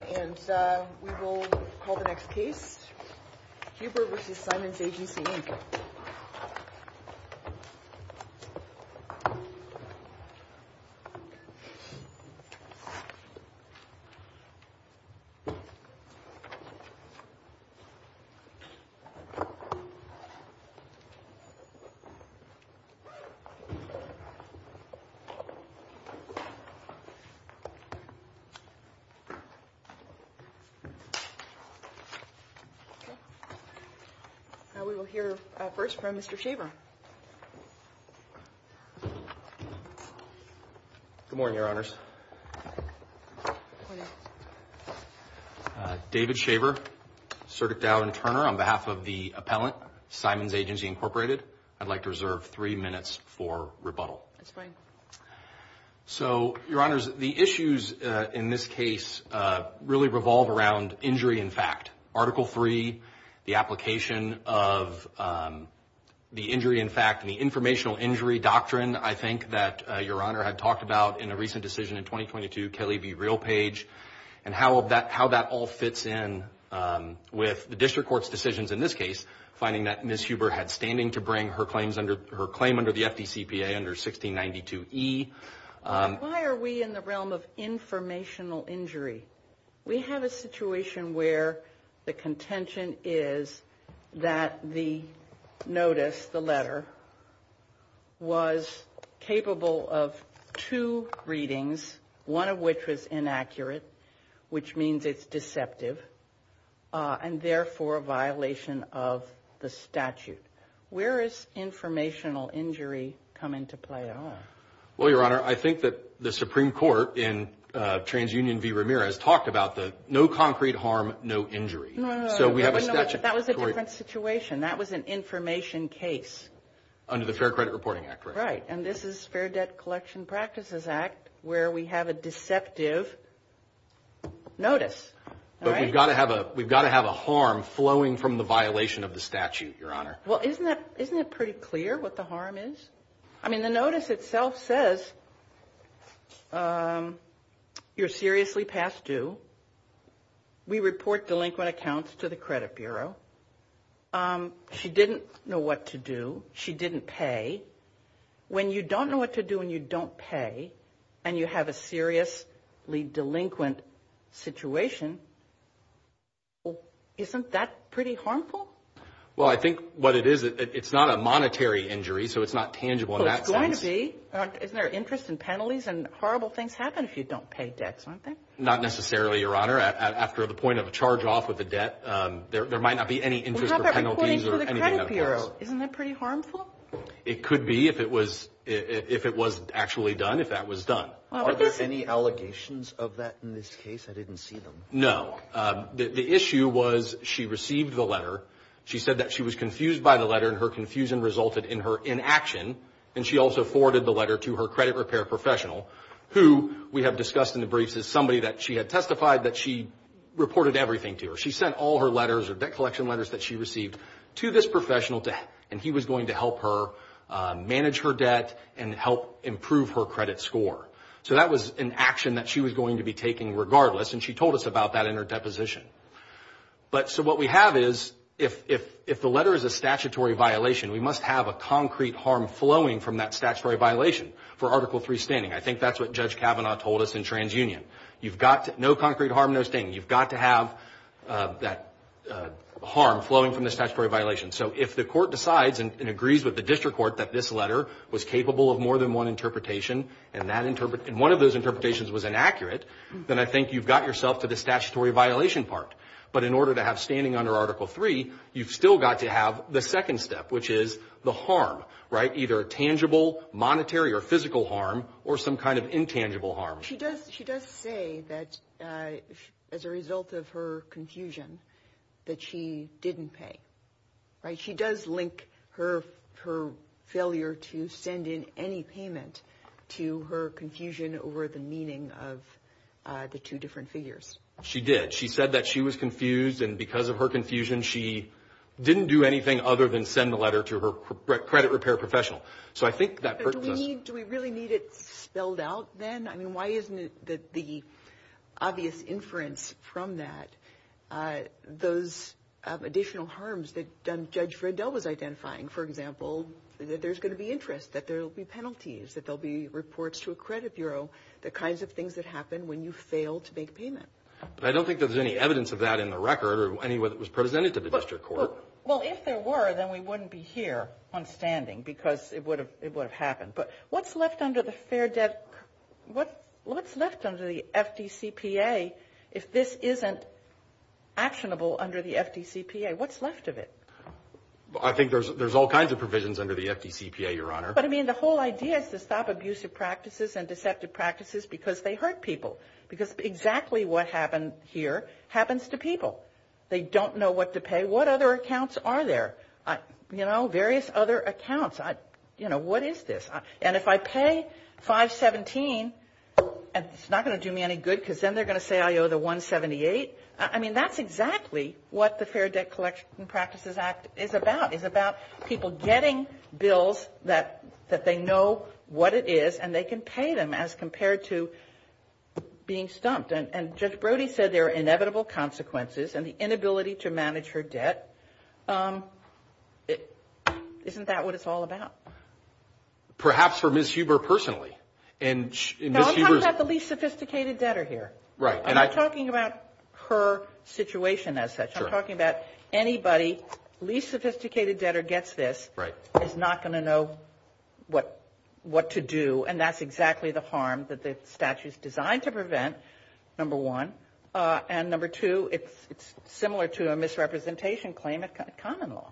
And we will call the next case, Huber v. Simons Agency Inc. Now we will hear first from Mr. Shaver. Good morning, Your Honors. Good morning. David Shaver, Circuit Dowd and Turner, on behalf of the appellant, Simons Agency Inc., I'd like to reserve three minutes for rebuttal. That's fine. So, Your Honors, the issues in this case really revolve around injury in fact. Article 3, the application of the injury in fact and the informational injury doctrine, I think, that Your Honor had talked about in a recent decision in 2022, Kelly v. Realpage, and how that all fits in with the district court's decisions in this case, finding that Ms. Huber had standing to bring her claim under the FDCPA under 1692e. Why are we in the realm of informational injury? We have a situation where the contention is that the notice, the letter, was capable of two readings, one of which was inaccurate, which means it's deceptive, and therefore a violation of the statute. Where is informational injury coming to play at all? Well, Your Honor, I think that the Supreme Court in TransUnion v. Ramirez talked about the no concrete harm, no injury. No, no, no. So we have a statute. That was a different situation. That was an information case. Under the Fair Credit Reporting Act, right? Right. And this is Fair Debt Collection Practices Act, where we have a deceptive notice. But we've got to have a harm flowing from the violation of the statute, Your Honor. Well, isn't it pretty clear what the harm is? I mean, the notice itself says you're seriously past due. We report delinquent accounts to the credit bureau. She didn't know what to do. She didn't pay. When you don't know what to do and you don't pay and you have a seriously delinquent situation, isn't that pretty harmful? Well, I think what it is, it's not a monetary injury, so it's not tangible in that sense. Well, it's going to be. Isn't there interest and penalties? And horrible things happen if you don't pay debt, don't they? Not necessarily, Your Honor. After the point of a charge off of a debt, there might not be any interest or penalties or anything of the kind. Well, how about reporting to the credit bureau? Isn't that pretty harmful? It could be if it was actually done, if that was done. Are there any allegations of that in this case? I didn't see them. No. The issue was she received the letter. She said that she was confused by the letter, and her confusion resulted in her inaction, and she also forwarded the letter to her credit repair professional, who we have discussed in the briefs is somebody that she had testified that she reported everything to. She sent all her letters or debt collection letters that she received to this professional, and he was going to help her manage her debt and help improve her credit score. So that was an action that she was going to be taking regardless, and she told us about that in her deposition. So what we have is if the letter is a statutory violation, we must have a concrete harm flowing from that statutory violation for Article III standing. I think that's what Judge Kavanaugh told us in TransUnion. You've got no concrete harm, no standing. You've got to have that harm flowing from the statutory violation. So if the court decides and agrees with the district court that this letter was capable of more than one interpretation and one of those interpretations was inaccurate, then I think you've got yourself to the statutory violation part. But in order to have standing under Article III, you've still got to have the second step, which is the harm, right, either tangible, monetary, or physical harm or some kind of intangible harm. She does say that as a result of her confusion that she didn't pay. She does link her failure to send in any payment to her confusion over the meaning of the two different figures. She did. She said that she was confused, and because of her confusion, she didn't do anything other than send the letter to her credit repair professional. So I think that hurts us. Do we really need it spelled out then? I mean, why isn't it that the obvious inference from that, those additional harms that Judge Vredel was identifying, for example, that there's going to be interest, that there will be penalties, that there will be reports to a credit bureau, the kinds of things that happen when you fail to make payment. But I don't think there's any evidence of that in the record or any that was presented to the district court. Well, if there were, then we wouldn't be here on standing because it would have happened. But what's left under the fair debt? What's left under the FDCPA if this isn't actionable under the FDCPA? What's left of it? I think there's all kinds of provisions under the FDCPA, Your Honor. But, I mean, the whole idea is to stop abusive practices and deceptive practices because they hurt people, because exactly what happened here happens to people. They don't know what to pay. What other accounts are there? You know, various other accounts. You know, what is this? And if I pay 517, it's not going to do me any good because then they're going to say I owe the 178. I mean, that's exactly what the Fair Debt Collection Practices Act is about. It's about people getting bills that they know what it is and they can pay them as compared to being stumped. And Judge Brody said there are inevitable consequences and the inability to manage her debt. Isn't that what it's all about? Perhaps for Ms. Huber personally. Now, I'm talking about the least sophisticated debtor here. Right. I'm not talking about her situation as such. I'm talking about anybody, least sophisticated debtor gets this is not going to know what to do, and that's exactly the harm that the statute is designed to prevent, number one. And number two, it's similar to a misrepresentation claim at common law.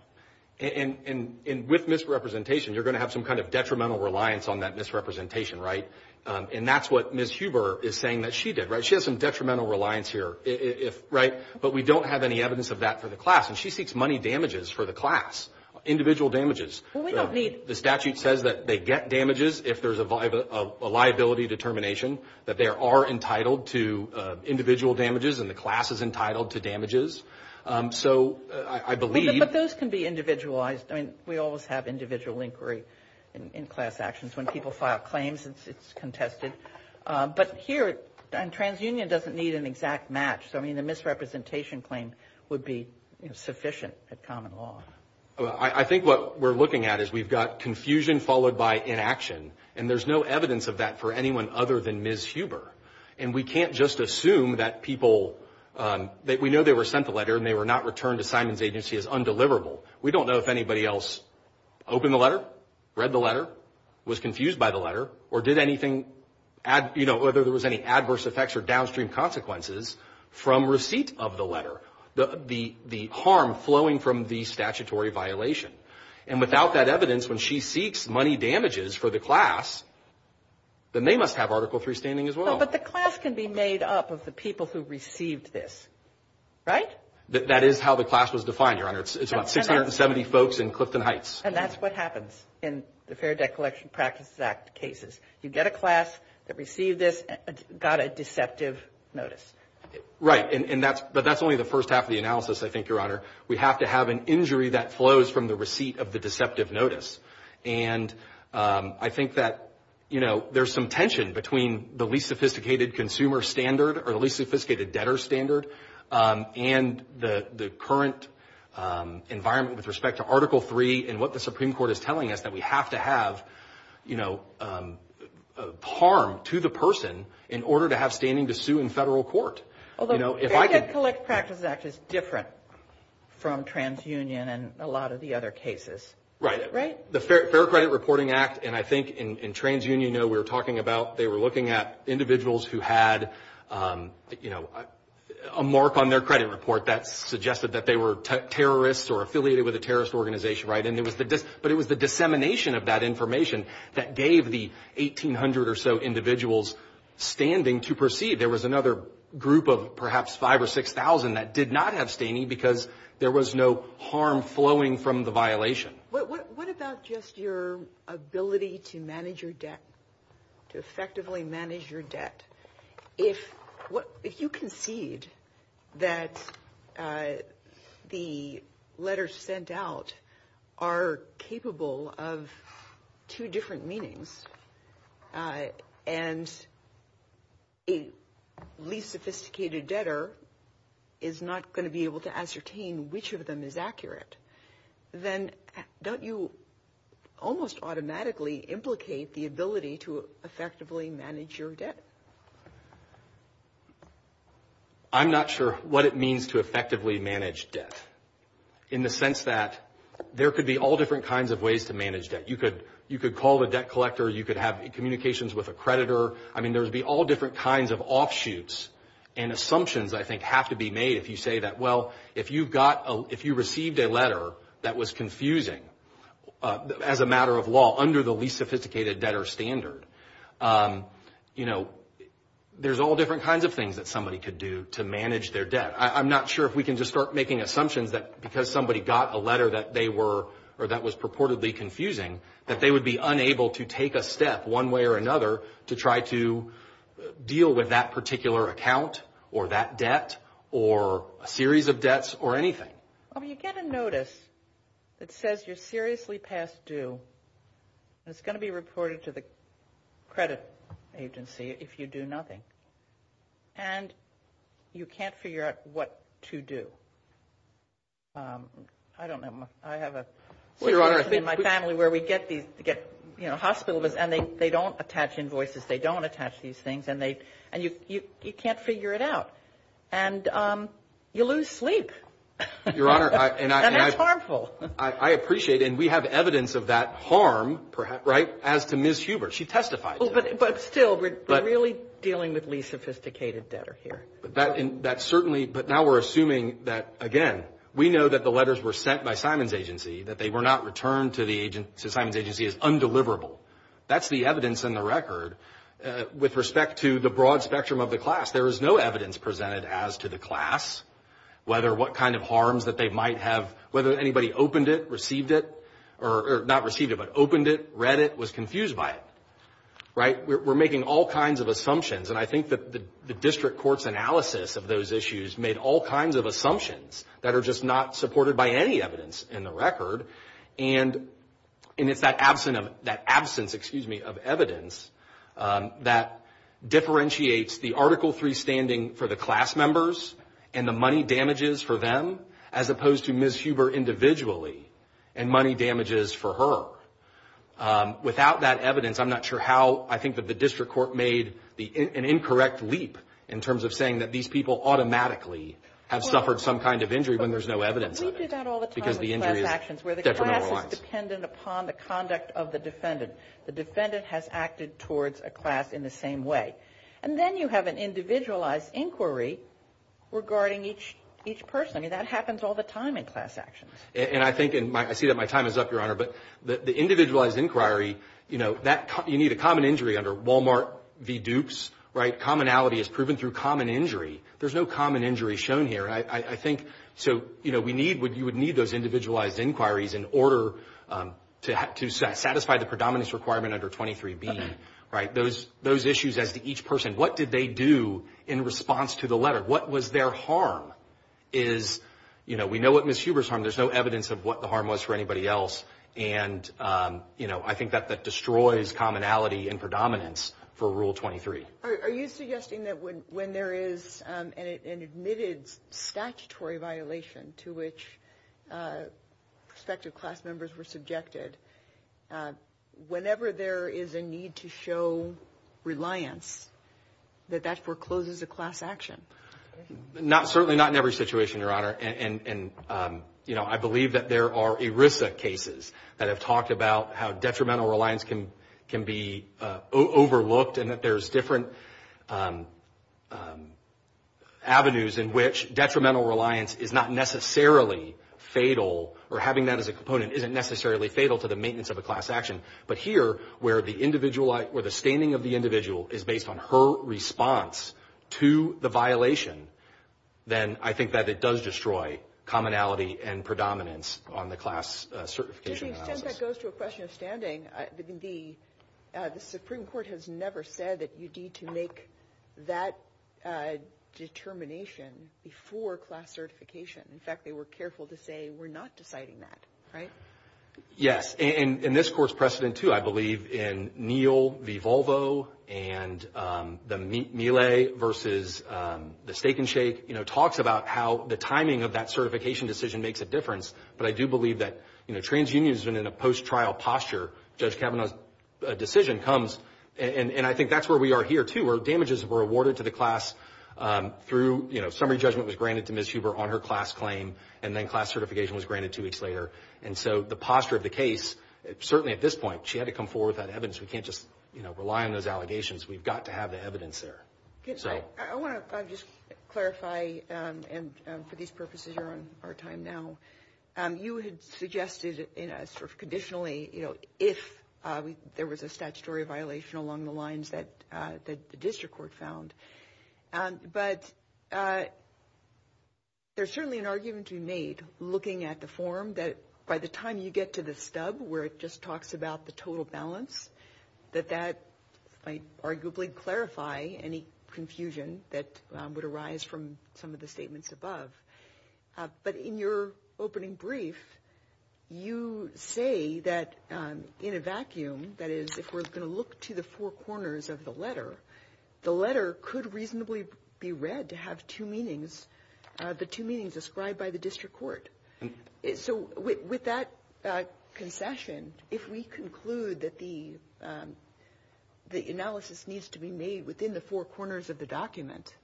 And with misrepresentation, you're going to have some kind of detrimental reliance on that misrepresentation, right? And that's what Ms. Huber is saying that she did, right? She has some detrimental reliance here, right? But we don't have any evidence of that for the class, and she seeks money damages for the class, individual damages. Well, we don't need. The statute says that they get damages if there's a liability determination that they are entitled to individual damages and the class is entitled to damages. So I believe. But those can be individualized. I mean, we always have individual inquiry in class actions. When people file claims, it's contested. But here, and transunion doesn't need an exact match. So, I mean, the misrepresentation claim would be sufficient at common law. I think what we're looking at is we've got confusion followed by inaction, and there's no evidence of that for anyone other than Ms. Huber. And we can't just assume that people, that we know they were sent the letter and they were not returned to Simon's agency as undeliverable. We don't know if anybody else opened the letter, read the letter, was confused by the letter, or did anything, you know, whether there was any adverse effects or downstream consequences from receipt of the letter. The harm flowing from the statutory violation. And without that evidence, when she seeks money damages for the class, then they must have Article III standing as well. But the class can be made up of the people who received this, right? That is how the class was defined, Your Honor. It's about 670 folks in Clifton Heights. And that's what happens in the Fair Debt Collection Practices Act cases. You get a class that received this and got a deceptive notice. Right. But that's only the first half of the analysis, I think, Your Honor. We have to have an injury that flows from the receipt of the deceptive notice. And I think that, you know, there's some tension between the least sophisticated consumer standard or the least sophisticated debtor standard and the current environment with respect to Article III and what the Supreme Court is telling us, that we have to have, you know, harm to the person in order to have standing to sue in federal court. Although the Fair Debt Collection Practices Act is different from TransUnion and a lot of the other cases. Right. Right? The Fair Credit Reporting Act, and I think in TransUnion, you know, we were talking about, they were looking at individuals who had, you know, a mark on their credit report that suggested that they were terrorists or affiliated with a terrorist organization, right? But it was the dissemination of that information that gave the 1,800 or so individuals standing to proceed. There was another group of perhaps 5,000 or 6,000 that did not have standing because there was no harm flowing from the violation. What about just your ability to manage your debt, to effectively manage your debt? If you concede that the letters sent out are capable of two different meanings and a least sophisticated debtor is not going to be able to ascertain which of them is accurate, then don't you almost automatically implicate the ability to effectively manage your debt? I'm not sure what it means to effectively manage debt in the sense that there could be all different kinds of ways to manage debt. You could call the debt collector. You could have communications with a creditor. I mean, there would be all different kinds of offshoots and assumptions, I think, have to be made if you say that, well, if you received a letter that was confusing, as a matter of law, under the least sophisticated debtor standard, you know, there's all different kinds of things that somebody could do to manage their debt. I'm not sure if we can just start making assumptions that because somebody got a letter that they were or that was purportedly confusing, that they would be unable to take a step one way or another to try to deal with that particular account or that debt or a series of debts or anything. Well, you get a notice that says you're seriously past due, and it's going to be reported to the credit agency if you do nothing, and you can't figure out what to do. I don't know. I have a situation in my family where we get hospital visits, and they don't attach invoices. They don't attach these things, and you can't figure it out. And you lose sleep, and that's harmful. Your Honor, I appreciate it, and we have evidence of that harm, right, as to Ms. Huber. She testified to it. But still, we're really dealing with least sophisticated debtor here. But now we're assuming that, again, we know that the letters were sent by Simon's agency, that they were not returned to Simon's agency as undeliverable. That's the evidence in the record. With respect to the broad spectrum of the class, there is no evidence presented as to the class, whether what kind of harms that they might have, whether anybody opened it, received it, or not received it, but opened it, read it, was confused by it. We're making all kinds of assumptions, and I think that the district court's analysis of those issues made all kinds of assumptions that are just not supported by any evidence in the record. And it's that absence of evidence that differentiates the Article III standing for the class members and the money damages for them as opposed to Ms. Huber individually and money damages for her. Without that evidence, I'm not sure how I think that the district court made an incorrect leap in terms of saying that these people automatically have suffered some kind of injury when there's no evidence of it. We do that all the time with class actions where the class is dependent upon the conduct of the defendant. The defendant has acted towards a class in the same way. And then you have an individualized inquiry regarding each person. That happens all the time in class actions. And I think, and I see that my time is up, Your Honor, but the individualized inquiry, you know, you need a common injury under Wal-Mart v. Dukes, right? Commonality is proven through common injury. There's no common injury shown here. I think so, you know, you would need those individualized inquiries in order to satisfy the predominance requirement under 23B, right? Those issues as to each person. What did they do in response to the letter? What was their harm? Is, you know, we know what Ms. Huber's harm. There's no evidence of what the harm was for anybody else. And, you know, I think that that destroys commonality and predominance for Rule 23. Are you suggesting that when there is an admitted statutory violation to which prospective class members were subjected, whenever there is a need to show reliance, that that forecloses a class action? Certainly not in every situation, Your Honor. And, you know, I believe that there are ERISA cases that have talked about how detrimental reliance can be overlooked and that there's different avenues in which detrimental reliance is not necessarily fatal or having that as a component isn't necessarily fatal to the maintenance of a class action. But here, where the standing of the individual is based on her response to the violation, then I think that it does destroy commonality and predominance on the class certification analysis. To the extent that goes to a question of standing, the Supreme Court has never said that you need to make that determination before class certification. In fact, they were careful to say we're not deciding that, right? Yes. And this Court's precedent, too, I believe, in Neal v. Volvo and the Miele versus the Steak and Shake, you know, talks about how the timing of that certification decision makes a difference. But I do believe that, you know, TransUnion has been in a post-trial posture. Judge Kavanaugh's decision comes, and I think that's where we are here, too, where damages were awarded to the class through, you know, summary judgment was granted to Ms. Huber on her class claim, and then class certification was granted two weeks later. And so the posture of the case, certainly at this point, she had to come forward with that evidence. We can't just, you know, rely on those allegations. We've got to have the evidence there. I want to just clarify, and for these purposes you're on our time now, you had suggested sort of conditionally, you know, if there was a statutory violation along the lines that the district court found. But there's certainly an argument to be made, looking at the form, that by the time you get to the stub where it just talks about the total balance, that that might arguably clarify any confusion that would arise from some of the statements above. But in your opening brief, you say that in a vacuum, that is if we're going to look to the four corners of the letter, the letter could reasonably be read to have two meanings, the two meanings described by the district court. So with that concession, if we conclude that the analysis needs to be made within the four corners of the document,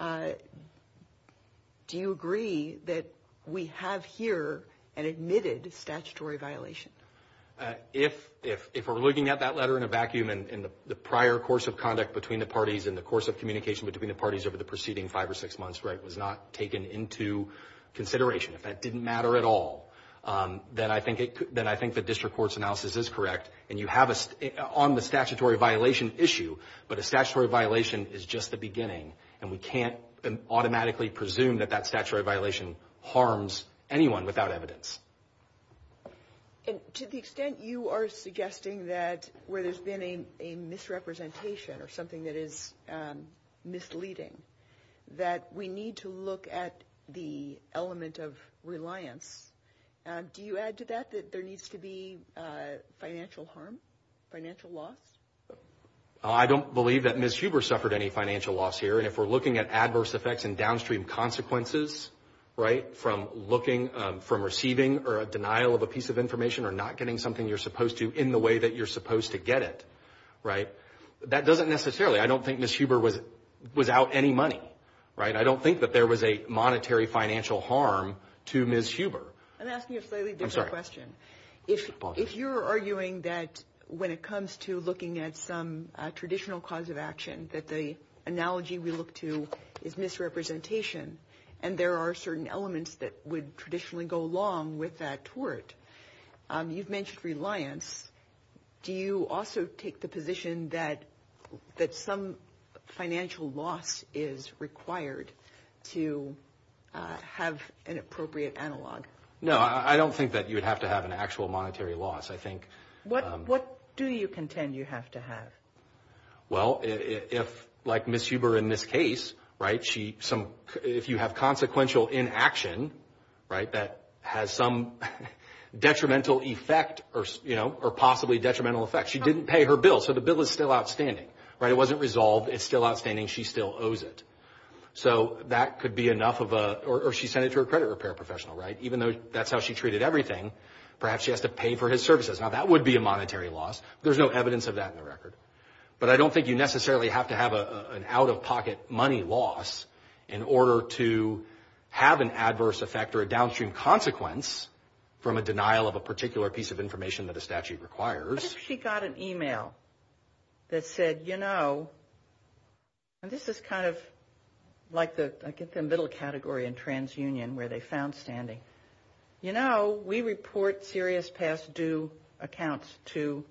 do you agree that we have here an admitted statutory violation? If we're looking at that letter in a vacuum and the prior course of conduct between the parties and the course of communication between the parties over the preceding five or six months was not taken into consideration, if that didn't matter at all, then I think the district court's analysis is correct. And you have us on the statutory violation issue, but a statutory violation is just the beginning, and we can't automatically presume that that statutory violation harms anyone without evidence. And to the extent you are suggesting that where there's been a misrepresentation or something that is misleading, that we need to look at the element of reliance, do you add to that that there needs to be financial harm, financial loss? I don't believe that Ms. Huber suffered any financial loss here, and if we're looking at adverse effects and downstream consequences, right, from looking, from receiving or a denial of a piece of information or not getting something you're supposed to in the way that you're supposed to get it, right, that doesn't necessarily, I don't think Ms. Huber was out any money, right? I don't think that there was a monetary financial harm to Ms. Huber. I'm asking you a slightly different question. I'm sorry. If you're arguing that when it comes to looking at some traditional cause of action, that the analogy we look to is misrepresentation and there are certain elements that would traditionally go along with that tort, you've mentioned reliance. Do you also take the position that some financial loss is required to have an appropriate analog? No, I don't think that you would have to have an actual monetary loss. What do you contend you have to have? Well, like Ms. Huber in this case, right, if you have consequential inaction, right, that has some detrimental effect or possibly detrimental effect. She didn't pay her bill, so the bill is still outstanding, right? It wasn't resolved. It's still outstanding. She still owes it. So that could be enough of a, or she sent it to her credit repair professional, right? Even though that's how she treated everything, perhaps she has to pay for his services. Now, that would be a monetary loss. There's no evidence of that in the record. But I don't think you necessarily have to have an out-of-pocket money loss in order to have an adverse effect or a downstream consequence from a denial of a particular piece of information that a statute requires. What if she got an email that said, you know, and this is kind of like the middle category in transunion where they found standing, you know, we report serious past due accounts to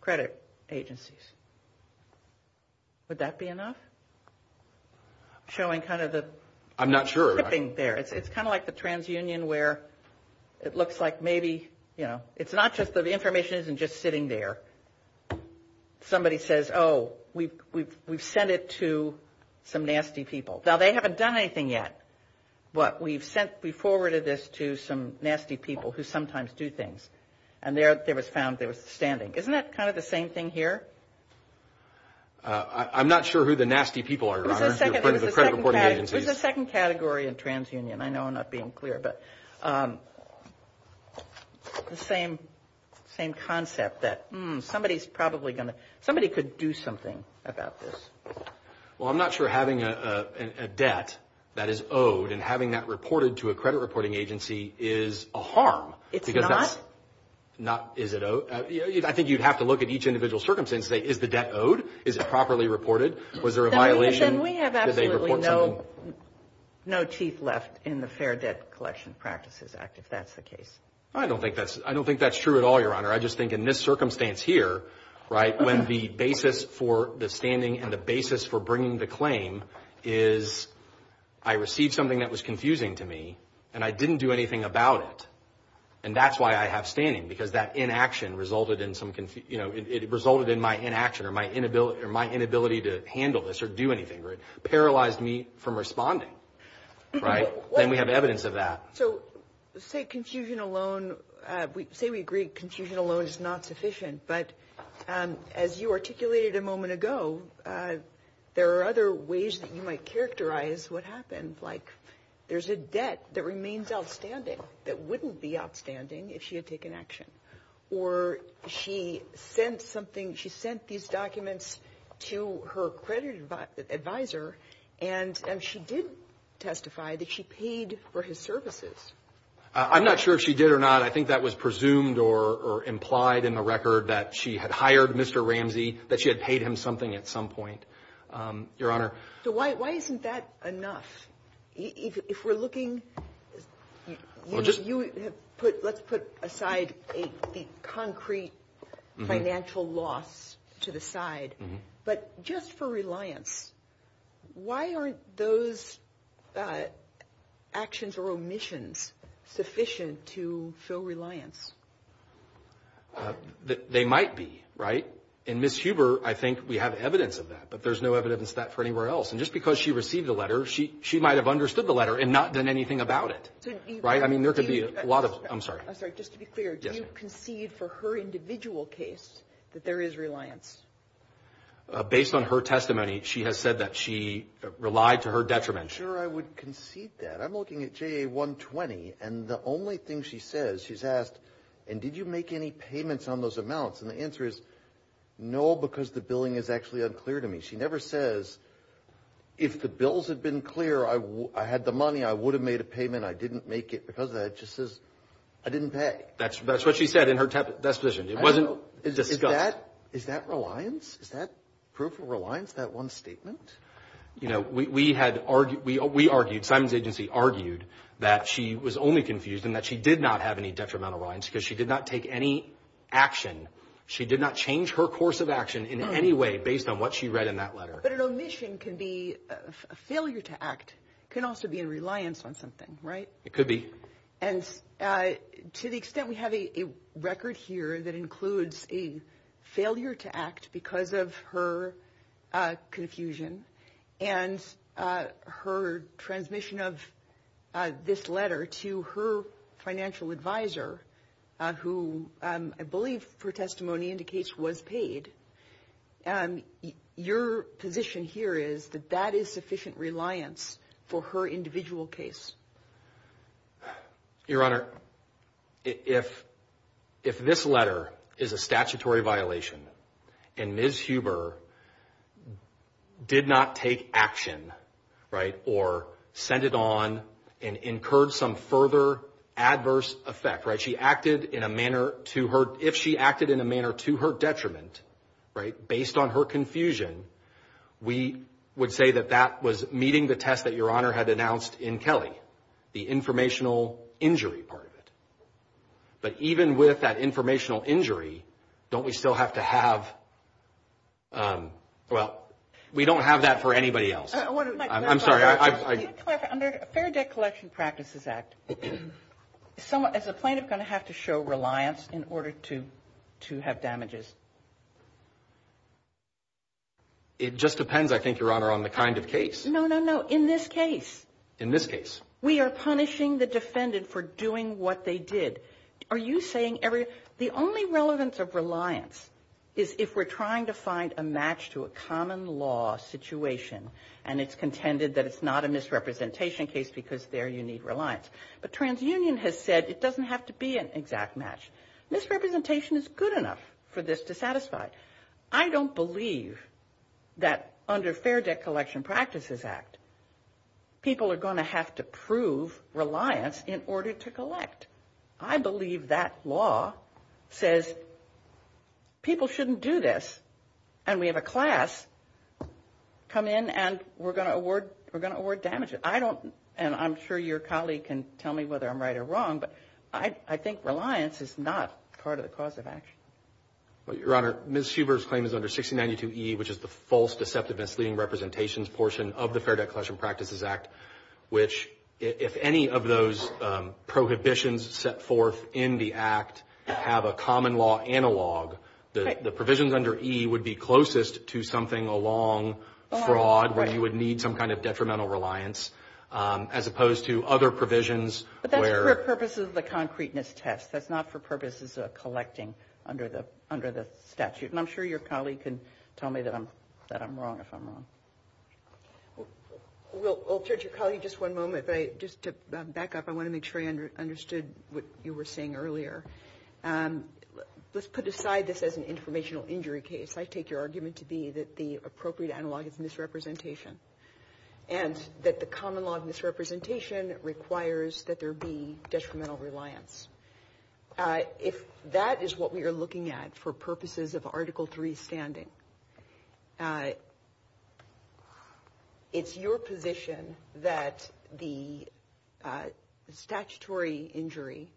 credit agencies. Would that be enough? Showing kind of the tipping there. It's kind of like the transunion where it looks like maybe, you know, it's not just that the information isn't just sitting there. Somebody says, oh, we've sent it to some nasty people. Now, they haven't done anything yet, but we've forwarded this to some nasty people who sometimes do things. And there it was found there was standing. Isn't that kind of the same thing here? I'm not sure who the nasty people are, Your Honor, the credit reporting agencies. It was the second category in transunion. I know I'm not being clear, but the same concept that somebody's probably going to – somebody could do something about this. Well, I'm not sure having a debt that is owed and having that reported to a credit reporting agency is a harm. It's not? I think you'd have to look at each individual circumstance and say, is the debt owed? Is it properly reported? Was there a violation? Then we have absolutely no chief left in the Fair Debt Collection Practices Act, if that's the case. I don't think that's true at all, Your Honor. I just think in this circumstance here, right, when the basis for the standing and the basis for bringing the claim is I received something that was confusing to me and I didn't do anything about it, and that's why I have standing, because that inaction resulted in some – it resulted in my inaction or my inability to handle this or do anything. It paralyzed me from responding, right? Then we have evidence of that. So say confusion alone – say we agree confusion alone is not sufficient, but as you articulated a moment ago, there are other ways that you might characterize what happened. Like there's a debt that remains outstanding that wouldn't be outstanding if she had taken action. Or she sent something – she sent these documents to her credit advisor and she did testify that she paid for his services. I'm not sure if she did or not. I think that was presumed or implied in the record that she had hired Mr. Ramsey, that she had paid him something at some point, Your Honor. So why isn't that enough? If we're looking – let's put aside the concrete financial loss to the side, but just for reliance, why aren't those actions or omissions sufficient to show reliance? They might be, right? In Ms. Huber, I think we have evidence of that, but there's no evidence of that for anywhere else. And just because she received a letter, she might have understood the letter and not done anything about it, right? I mean, there could be a lot of – I'm sorry. Just to be clear, do you concede for her individual case that there is reliance? Based on her testimony, she has said that she relied to her detriment. Sure, I would concede that. I'm looking at JA-120, and the only thing she says – she's asked, and did you make any payments on those amounts? And the answer is, no, because the billing is actually unclear to me. She never says, if the bills had been clear, I had the money, I would have made a payment, I didn't make it because of that. It just says, I didn't pay. That's what she said in her disposition. It wasn't discussed. Is that reliance? Is that proof of reliance, that one statement? You know, we argued – Simon's agency argued that she was only confused in that she did not have any detrimental reliance because she did not take any action. She did not change her course of action in any way based on what she read in that letter. But an omission can be a failure to act. It can also be a reliance on something, right? It could be. And to the extent we have a record here that includes a failure to act because of her confusion and her transmission of this letter to her financial advisor, who I believe for testimony indicates was paid, your position here is that that is sufficient reliance for her individual case. Your Honor, if this letter is a statutory violation and Ms. Huber did not take action, right, or sent it on and incurred some further adverse effect, right, if she acted in a manner to her detriment, right, based on her confusion, we would say that that was meeting the test that Your Honor had announced in Kelly, the informational injury part of it. But even with that informational injury, don't we still have to have – well, we don't have that for anybody else. I'm sorry. Can I clarify? Under the Fair Debt Collection Practices Act, is a plaintiff going to have to show reliance in order to have damages? It just depends, I think, Your Honor, on the kind of case. No, no, no. In this case. In this case. We are punishing the defendant for doing what they did. Are you saying every – the only relevance of reliance is if we're trying to find a match to a common law situation and it's contended that it's not a misrepresentation case because there you need reliance. But TransUnion has said it doesn't have to be an exact match. Misrepresentation is good enough for this to satisfy. I don't believe that under Fair Debt Collection Practices Act, people are going to have to prove reliance in order to collect. I believe that law says people shouldn't do this and we have a class come in and we're going to award damages. I don't, and I'm sure your colleague can tell me whether I'm right or wrong, but I think reliance is not part of the cause of action. Your Honor, Ms. Huber's claim is under 1692E, which is the false deceptiveness leading representations portion of the Fair Debt Collection Practices Act, which if any of those prohibitions set forth in the act have a common law analog, the provisions under E would be closest to something along fraud where you would need some kind of detrimental reliance as opposed to other provisions. But that's for purposes of the concreteness test. That's not for purposes of collecting under the statute. And I'm sure your colleague can tell me that I'm wrong if I'm wrong. Well, Judge, I'll call you just one moment. Just to back up, I want to make sure I understood what you were saying earlier. Let's put aside this as an informational injury case. I take your argument to be that the appropriate analog is misrepresentation and that the common law of misrepresentation requires that there be detrimental reliance. If that is what we are looking at for purposes of Article III standing, it's your position that the statutory injury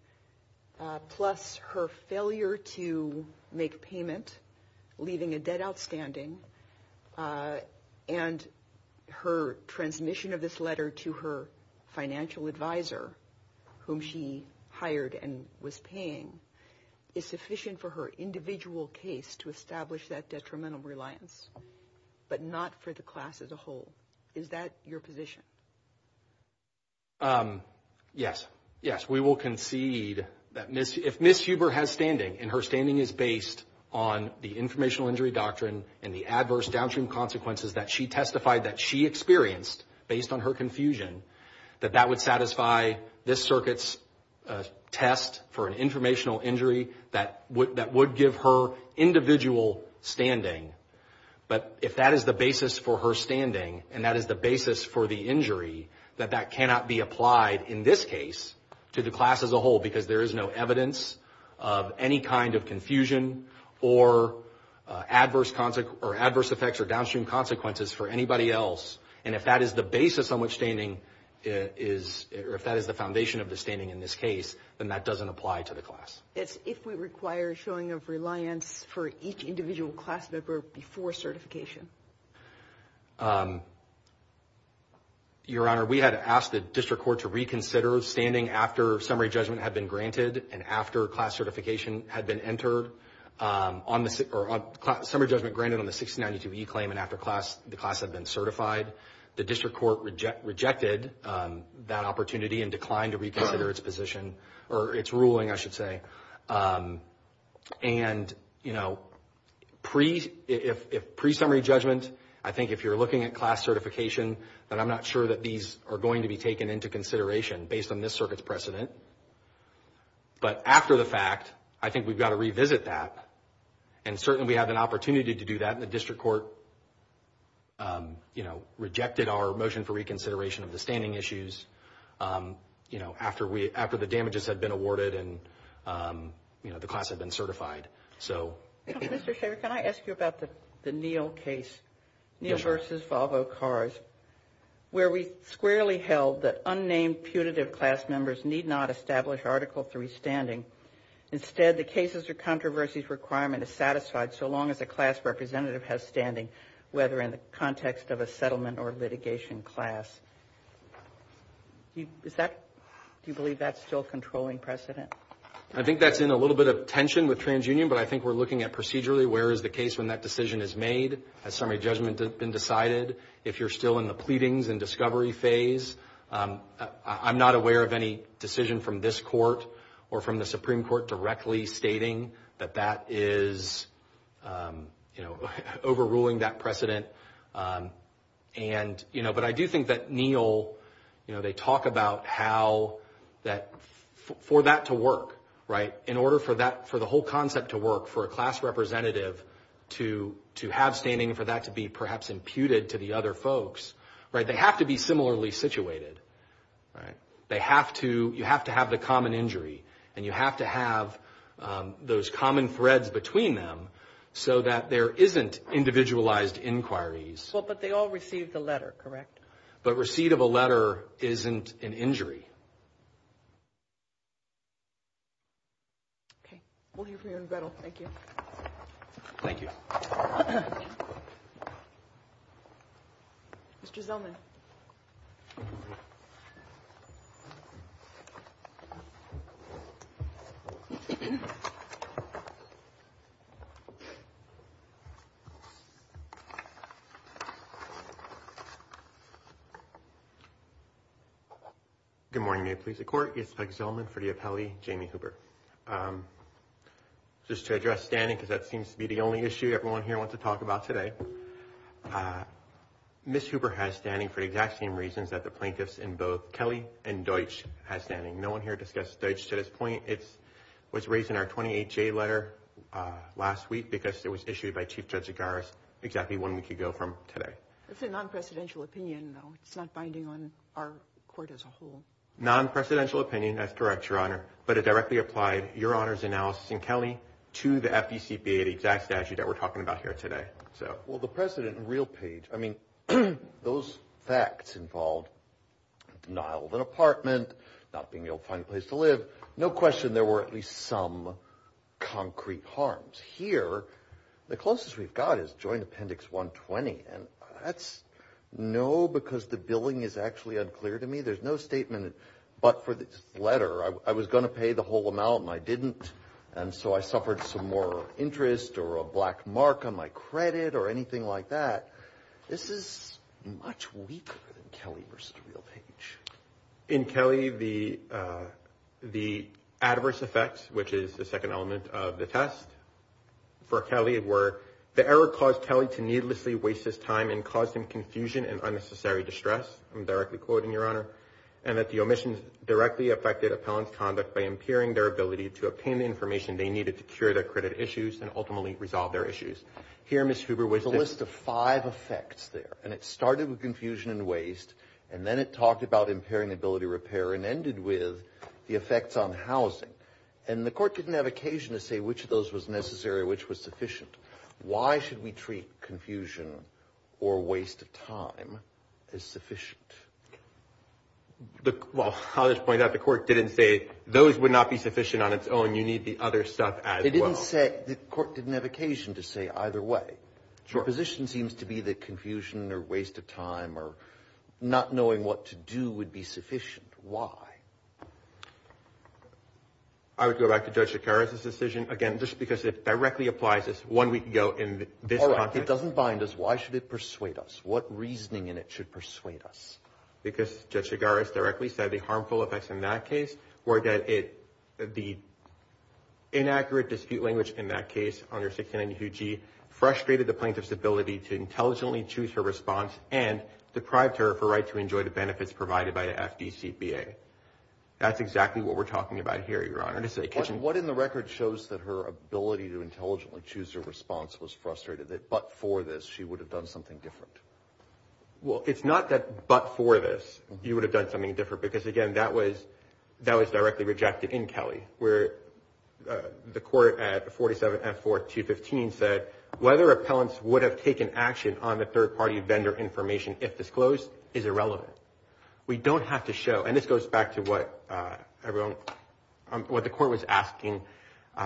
plus her failure to make payment, leaving a debt outstanding, and her transmission of this letter to her financial advisor, whom she hired and was paying, is sufficient for her individual case to establish that detrimental reliance, but not for the class as a whole. Is that your position? Yes. Yes, we will concede that if Ms. Huber has standing, and her standing is based on the informational injury doctrine and the adverse downstream consequences that she testified that she experienced based on her confusion, that that would satisfy this circuit's test for an informational injury that would give her individual standing. But if that is the basis for her standing and that is the basis for the injury, that that cannot be applied in this case to the class as a whole because there is no evidence of any kind of confusion or adverse effects or downstream consequences for anybody else. And if that is the basis on which standing is, or if that is the foundation of the standing in this case, then that doesn't apply to the class. It's if we require showing of reliance for each individual class member before certification. Your Honor, we had asked the district court to reconsider standing after summary judgment had been granted and after class certification had been entered, or summary judgment granted on the 1692E claim and after the class had been certified. The district court rejected that opportunity and declined to reconsider its position, or its ruling, I should say. And, you know, if pre-summary judgment, I think if you're looking at class certification, then I'm not sure that these are going to be taken into consideration based on this circuit's precedent. But after the fact, I think we've got to revisit that. And certainly we have an opportunity to do that, and the district court, you know, rejected our motion for reconsideration of the standing issues, you know, after the damages had been awarded and, you know, the class had been certified. Mr. Shaver, can I ask you about the Neal case, Neal v. Volvo Cars, where we squarely held that unnamed punitive class members need not establish Article III standing. Instead, the cases or controversies requirement is satisfied so long as a class representative has standing, whether in the context of a settlement or litigation class. Do you believe that's still a controlling precedent? I think that's in a little bit of tension with TransUnion, but I think we're looking at procedurally, where is the case when that decision is made, has summary judgment been decided, if you're still in the pleadings and discovery phase. I'm not aware of any decision from this court or from the Supreme Court directly stating that that is, you know, overruling that precedent. And, you know, but I do think that Neal, you know, they talk about how that, for that to work, right, in order for that, for the whole concept to work, for a class representative to have standing, for that to be perhaps imputed to the other folks, right, they have to be similarly situated, right? They have to, you have to have the common injury, and you have to have those common threads between them so that there isn't individualized inquiries. Well, but they all received a letter, correct? Mr. Zellman. Good morning, May it please the Court. It's Doug Zellman for the appellee, Jamie Hooper. Just to address standing, because that seems to be the only issue everyone here wants to talk about today. Ms. Hooper has standing for the exact same reasons that the plaintiffs in both Kelly and Deutsch have standing. No one here discussed Deutsch to this point. It was raised in our 28-J letter last week because it was issued by Chief Judge Agares exactly one week ago from today. It's a non-presidential opinion, though. It's not binding on our court as a whole. Non-presidential opinion, that's correct, Your Honor, but it directly applied, Your Honor's analysis in Kelly, to the FECPA, the exact statute that we're talking about here today. Well, the precedent in real page, I mean, those facts involved denial of an apartment, not being able to find a place to live, no question there were at least some concrete harms. Here, the closest we've got is Joint Appendix 120, and that's no, because the billing is actually unclear to me. There's no statement, but for this letter, I was going to pay the whole amount and I didn't, and so I suffered some moral interest or a black mark on my credit or anything like that. This is much weaker than Kelly versus real page. In Kelly, the adverse effects, which is the second element of the test for Kelly, were the error caused Kelly to needlessly waste his time and caused him confusion and unnecessary distress. I'm directly quoting, Your Honor, and that the omissions directly affected appellant's conduct by impairing their ability to obtain the information they needed to cure their credit issues and ultimately resolve their issues. Here, Ms. Huber, was a list of five effects there, and it started with confusion and waste, and then it talked about impairing ability to repair and ended with the effects on housing, and the court didn't have occasion to say which of those was necessary or which was sufficient. Why should we treat confusion or waste of time as sufficient? Well, I'll just point out the court didn't say those would not be sufficient on its own. You need the other stuff as well. The court didn't have occasion to say either way. Your position seems to be that confusion or waste of time or not knowing what to do would be sufficient. Why? I would go back to Judge Chigares' decision, again, just because it directly applies as one we can go in this context. All right. It doesn't bind us. Why should it persuade us? What reasoning in it should persuade us? Because Judge Chigares directly said the harmful effects in that case were that it, the inaccurate dispute language in that case under 1692G frustrated the plaintiff's ability to intelligently choose her response and deprived her of her right to enjoy the benefits provided by the FDCPA. That's exactly what we're talking about here, Your Honor. What in the record shows that her ability to intelligently choose her response was frustrated, that but for this she would have done something different? Well, it's not that but for this you would have done something different because, again, that was directly rejected in Kelly where the court at 47F4215 said, whether appellants would have taken action on the third-party vendor information, if disclosed, is irrelevant. We don't have to show, and this goes back to what the court was asking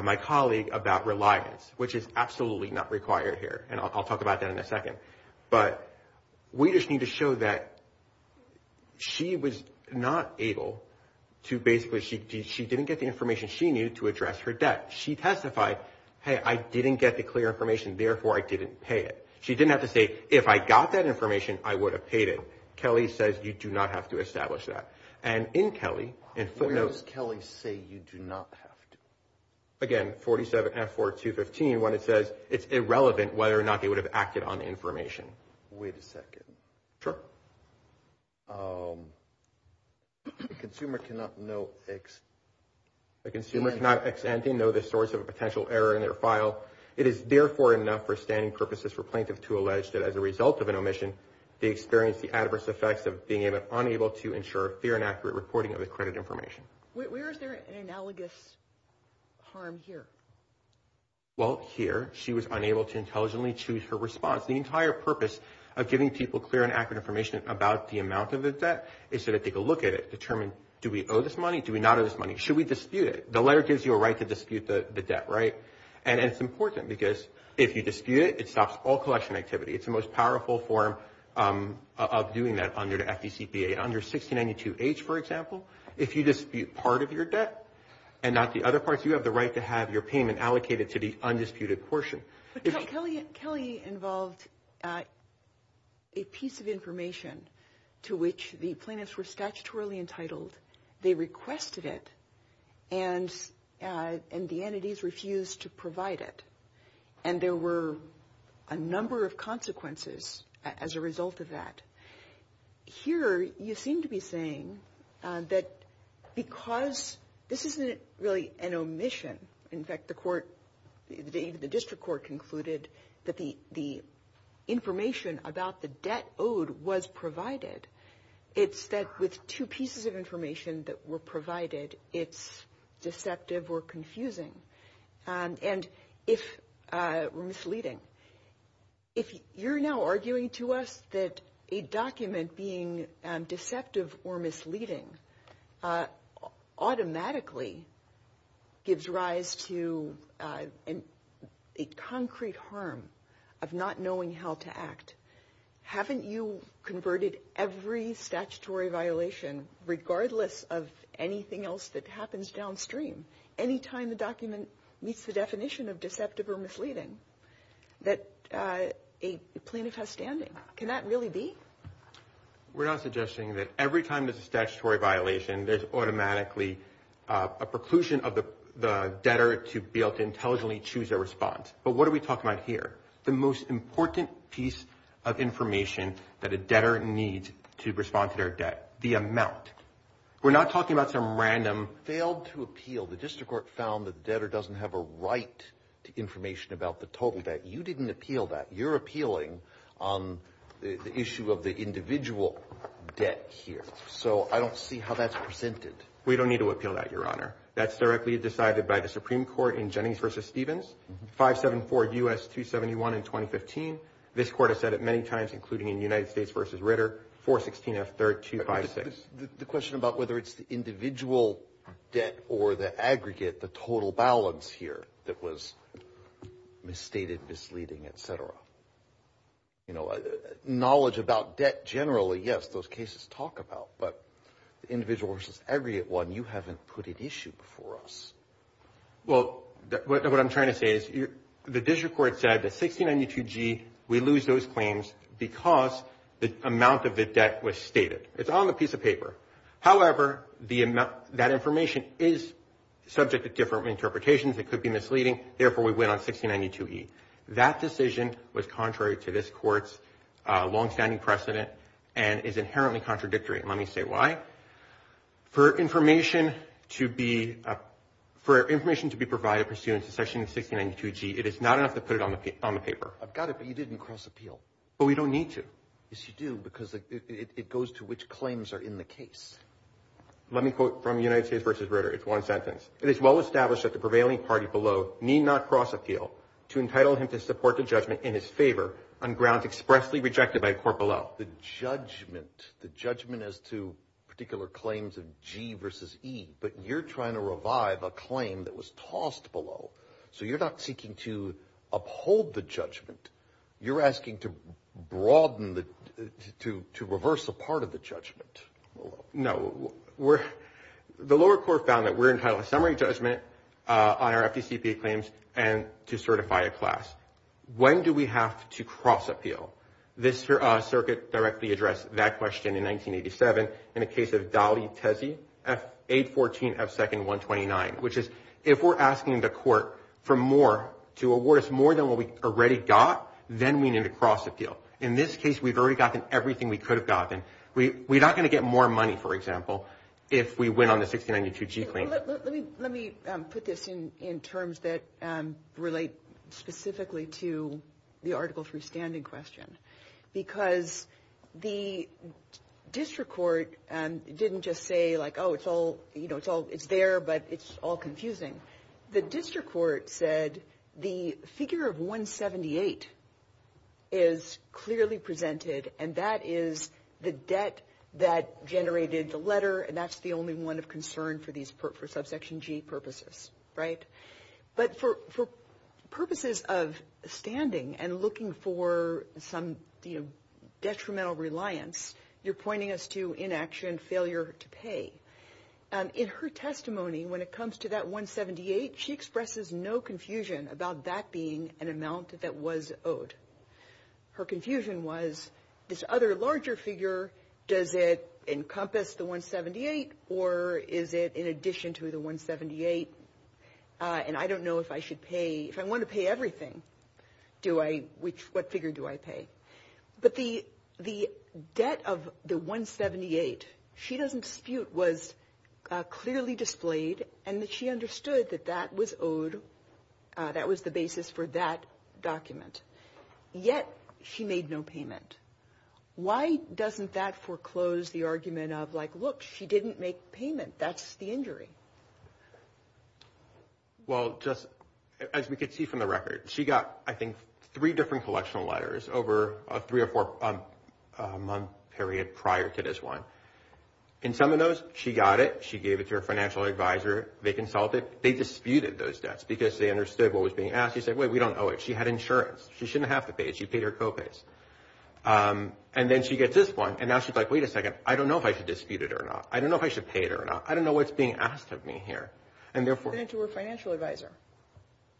my colleague about reliance, which is absolutely not required here, and I'll talk about that in a second, but we just need to show that she was not able to basically, she didn't get the information she needed to address her debt. She testified, hey, I didn't get the clear information, therefore I didn't pay it. She didn't have to say, if I got that information, I would have paid it. Kelly says you do not have to establish that. And in Kelly, in footnotes. Where does Kelly say you do not have to? Again, 47F4215, when it says it's irrelevant whether or not they would have acted on the information. Wait a second. Sure. The consumer cannot know the source of a potential error in their file. It is therefore enough for standing purposes for plaintiff to allege that as a result of an omission, they experienced the adverse effects of being unable to ensure a fair and accurate reporting of the credit information. Where is there an analogous harm here? Well, here, she was unable to intelligently choose her response. The entire purpose of giving people clear and accurate information about the amount of the debt is to take a look at it, determine do we owe this money, do we not owe this money, should we dispute it? The letter gives you a right to dispute the debt, right? And it's important because if you dispute it, it stops all collection activity. It's the most powerful form of doing that under the FDCPA. Under 1692H, for example, if you dispute part of your debt and not the other parts, you have the right to have your payment allocated to the undisputed portion. But Kelly involved a piece of information to which the plaintiffs were statutorily entitled. They requested it, and the entities refused to provide it. And there were a number of consequences as a result of that. Here, you seem to be saying that because this isn't really an omission. In fact, the court, the district court concluded that the information about the debt owed was provided. It's that with two pieces of information that were provided, it's deceptive or confusing or misleading. If you're now arguing to us that a document being deceptive or misleading automatically gives rise to a concrete harm of not knowing how to act, haven't you converted every statutory violation, regardless of anything else that happens downstream, any time the document meets the definition of deceptive or misleading, that a plaintiff has standing? Can that really be? We're not suggesting that every time there's a statutory violation, there's automatically a preclusion of the debtor to be able to intelligently choose their response. But what are we talking about here? The most important piece of information that a debtor needs to respond to their debt, the amount. We're not talking about some random failed to appeal. The district court found the debtor doesn't have a right to information about the total debt. You didn't appeal that. You're appealing on the issue of the individual debt here. So I don't see how that's presented. We don't need to appeal that, Your Honor. That's directly decided by the Supreme Court in Jennings v. Stevens. 574 U.S. 271 in 2015. This court has said it many times, including in United States v. Ritter, 416 F. 3256. The question about whether it's the individual debt or the aggregate, the total balance here, that was misstated, misleading, et cetera. You know, knowledge about debt generally, yes, those cases talk about. But the individual versus aggregate one, you haven't put at issue before us. Well, what I'm trying to say is the district court said that 1692G, we lose those claims because the amount of the debt was stated. It's on the piece of paper. However, that information is subject to different interpretations. It could be misleading. Therefore, we win on 1692E. That decision was contrary to this court's longstanding precedent and is inherently contradictory. Let me say why. For information to be provided pursuant to section 1692G, it is not enough to put it on the paper. I've got it, but you didn't cross appeal. But we don't need to. Yes, you do, because it goes to which claims are in the case. Let me quote from United States v. Ritter. It's one sentence. It is well established that the prevailing party below need not cross appeal to entitle him to support the judgment in his favor on grounds expressly rejected by the court below. You're talking about the judgment, the judgment as to particular claims of G versus E, but you're trying to revive a claim that was tossed below. So you're not seeking to uphold the judgment. You're asking to broaden the – to reverse a part of the judgment. No. The lower court found that we're entitled to summary judgment on our FDCPA claims and to certify a class. When do we have to cross appeal? This circuit directly addressed that question in 1987 in the case of Dali-Tesi, F814F2-129, which is if we're asking the court for more, to award us more than what we already got, then we need to cross appeal. In this case, we've already gotten everything we could have gotten. We're not going to get more money, for example, if we win on the 1692G claim. Let me put this in terms that relate specifically to the Article III standing question because the district court didn't just say, like, oh, it's all – you know, it's all – it's there, but it's all confusing. The district court said the figure of 178 is clearly presented, and that is the debt that generated the letter, and that's the only one of concern for these – for Subsection G purposes, right? But for purposes of standing and looking for some, you know, detrimental reliance, you're pointing us to inaction, failure to pay. In her testimony, when it comes to that 178, she expresses no confusion about that being an amount that was owed. Her confusion was, this other larger figure, does it encompass the 178, or is it in addition to the 178? And I don't know if I should pay – if I want to pay everything, do I – which – what figure do I pay? But the debt of the 178, she doesn't dispute, was clearly displayed, and that she understood that that was owed – that was the basis for that document. Yet she made no payment. Why doesn't that foreclose the argument of, like, look, she didn't make payment, that's the injury? Well, just – as we can see from the record, she got, I think, three different collection letters over a three or four-month period prior to this one. In some of those, she got it, she gave it to her financial advisor, they consulted, they disputed those debts, because they understood what was being asked. They said, wait, we don't owe it. She had insurance. She shouldn't have to pay it. She paid her co-pays. And then she gets this one, and now she's like, wait a second, I don't know if I should dispute it or not. I don't know if I should pay it or not. I don't know what's being asked of me here. And therefore – Sent it to her financial advisor.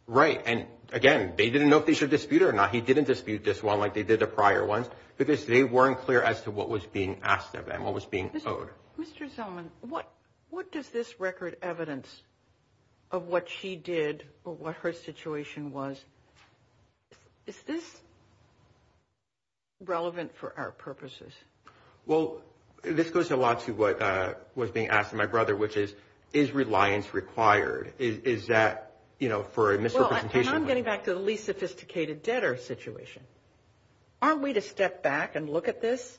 Right. And, again, they didn't know if they should dispute it or not. He didn't dispute this one like they did the prior ones, because they weren't clear as to what was being asked of them, what was being owed. Mr. Zellman, what does this record evidence of what she did or what her situation was – is this relevant for our purposes? Well, this goes a lot to what was being asked. My brother, which is, is reliance required? Is that, you know, for a misrepresentation – Well, and I'm getting back to the least sophisticated debtor situation. Aren't we to step back and look at this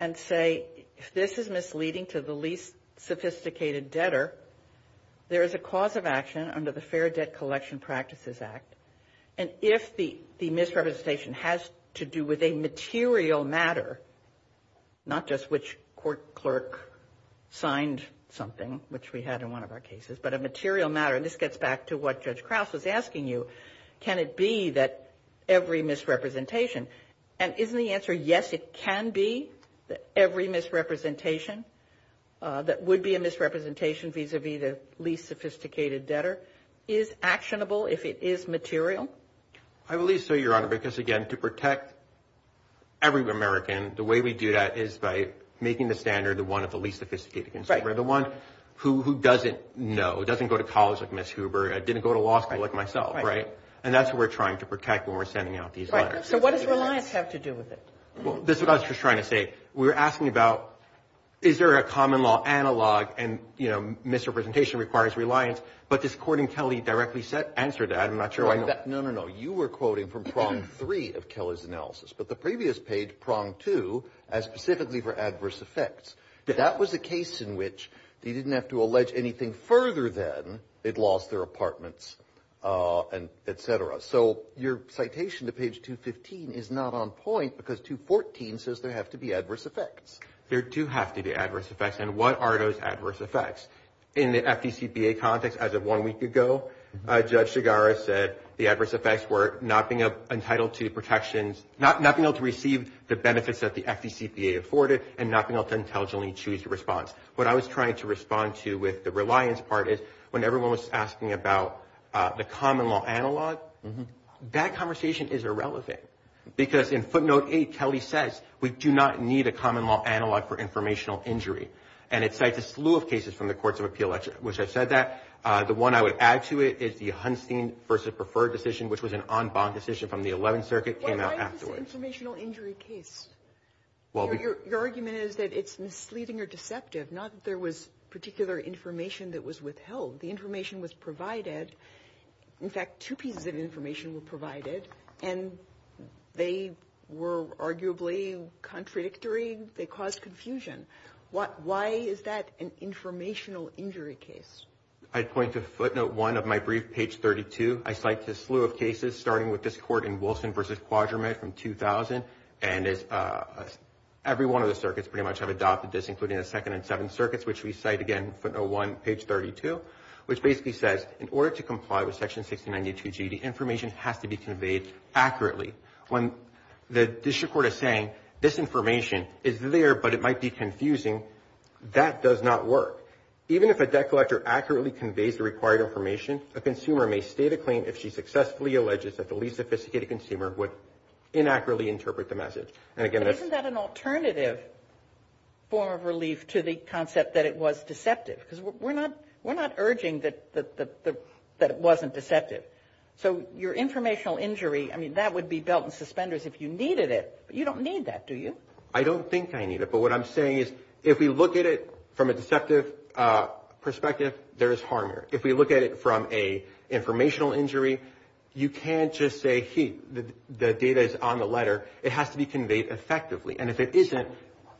and say, if this is misleading to the least sophisticated debtor, there is a cause of action under the Fair Debt Collection Practices Act. And if the misrepresentation has to do with a material matter, not just which court clerk signed something, which we had in one of our cases, but a material matter – and this gets back to what Judge Krause was asking you – can it be that every misrepresentation – and isn't the answer yes, it can be that every misrepresentation that would be a misrepresentation vis-à-vis the least sophisticated debtor is actionable if it is material? I believe so, Your Honor, because, again, to protect every American, the way we do that is by making the standard the one of the least sophisticated consumer, the one who doesn't know, doesn't go to college like Ms. Huber, didn't go to law school like myself, right? And that's what we're trying to protect when we're sending out these letters. So what does reliance have to do with it? Well, this is what I was just trying to say. We were asking about is there a common law analog and, you know, misrepresentation requires reliance, but this court in Kelly directly answered that. I'm not sure I know. No, no, no. You were quoting from prong three of Kelly's analysis, but the previous page, prong two, as specifically for adverse effects, that was a case in which they didn't have to allege anything further than they'd lost their apartments, et cetera. So your citation to page 215 is not on point because 214 says there have to be adverse effects. There do have to be adverse effects. And what are those adverse effects? In the FDCPA context, as of one week ago, Judge Shigara said the adverse effects were not being entitled to protections, not being able to receive the benefits that the FDCPA afforded, and not being able to intelligently choose a response. What I was trying to respond to with the reliance part is when everyone was asking about the common law analog, that conversation is irrelevant because in footnote eight, Kelly says, we do not need a common law analog for informational injury. And it cites a slew of cases from the courts of appeal, which I've said that. The one I would add to it is the Hunstein v. Preferred decision, which was an en banc decision from the 11th Circuit, came out afterwards. Why is this an informational injury case? Your argument is that it's misleading or deceptive, not that there was particular information that was withheld. The information was provided. In fact, two pieces of information were provided, and they were arguably contradictory. They caused confusion. Why is that an informational injury case? I'd point to footnote one of my brief, page 32. I cite a slew of cases, starting with this court in Wilson v. Quadramet from 2000, and every one of the circuits pretty much have adopted this, including the second and seventh circuits, which we cite again, footnote one, page 32, which basically says, in order to comply with section 1692G, the information has to be conveyed accurately. When the district court is saying, this information is there, but it might be confusing, that does not work. Even if a debt collector accurately conveys the required information, a consumer may state a claim if she successfully alleges that the least sophisticated consumer would inaccurately interpret the message. And again, that's... But isn't that an alternative form of relief to the concept that it was deceptive? Because we're not urging that it wasn't deceptive. So your informational injury, I mean, that would be belt and suspenders if you needed it. But you don't need that, do you? I don't think I need it. But what I'm saying is, if we look at it from a deceptive perspective, there is harm here. If we look at it from an informational injury, you can't just say, hey, the data is on the letter. It has to be conveyed effectively. And if it isn't,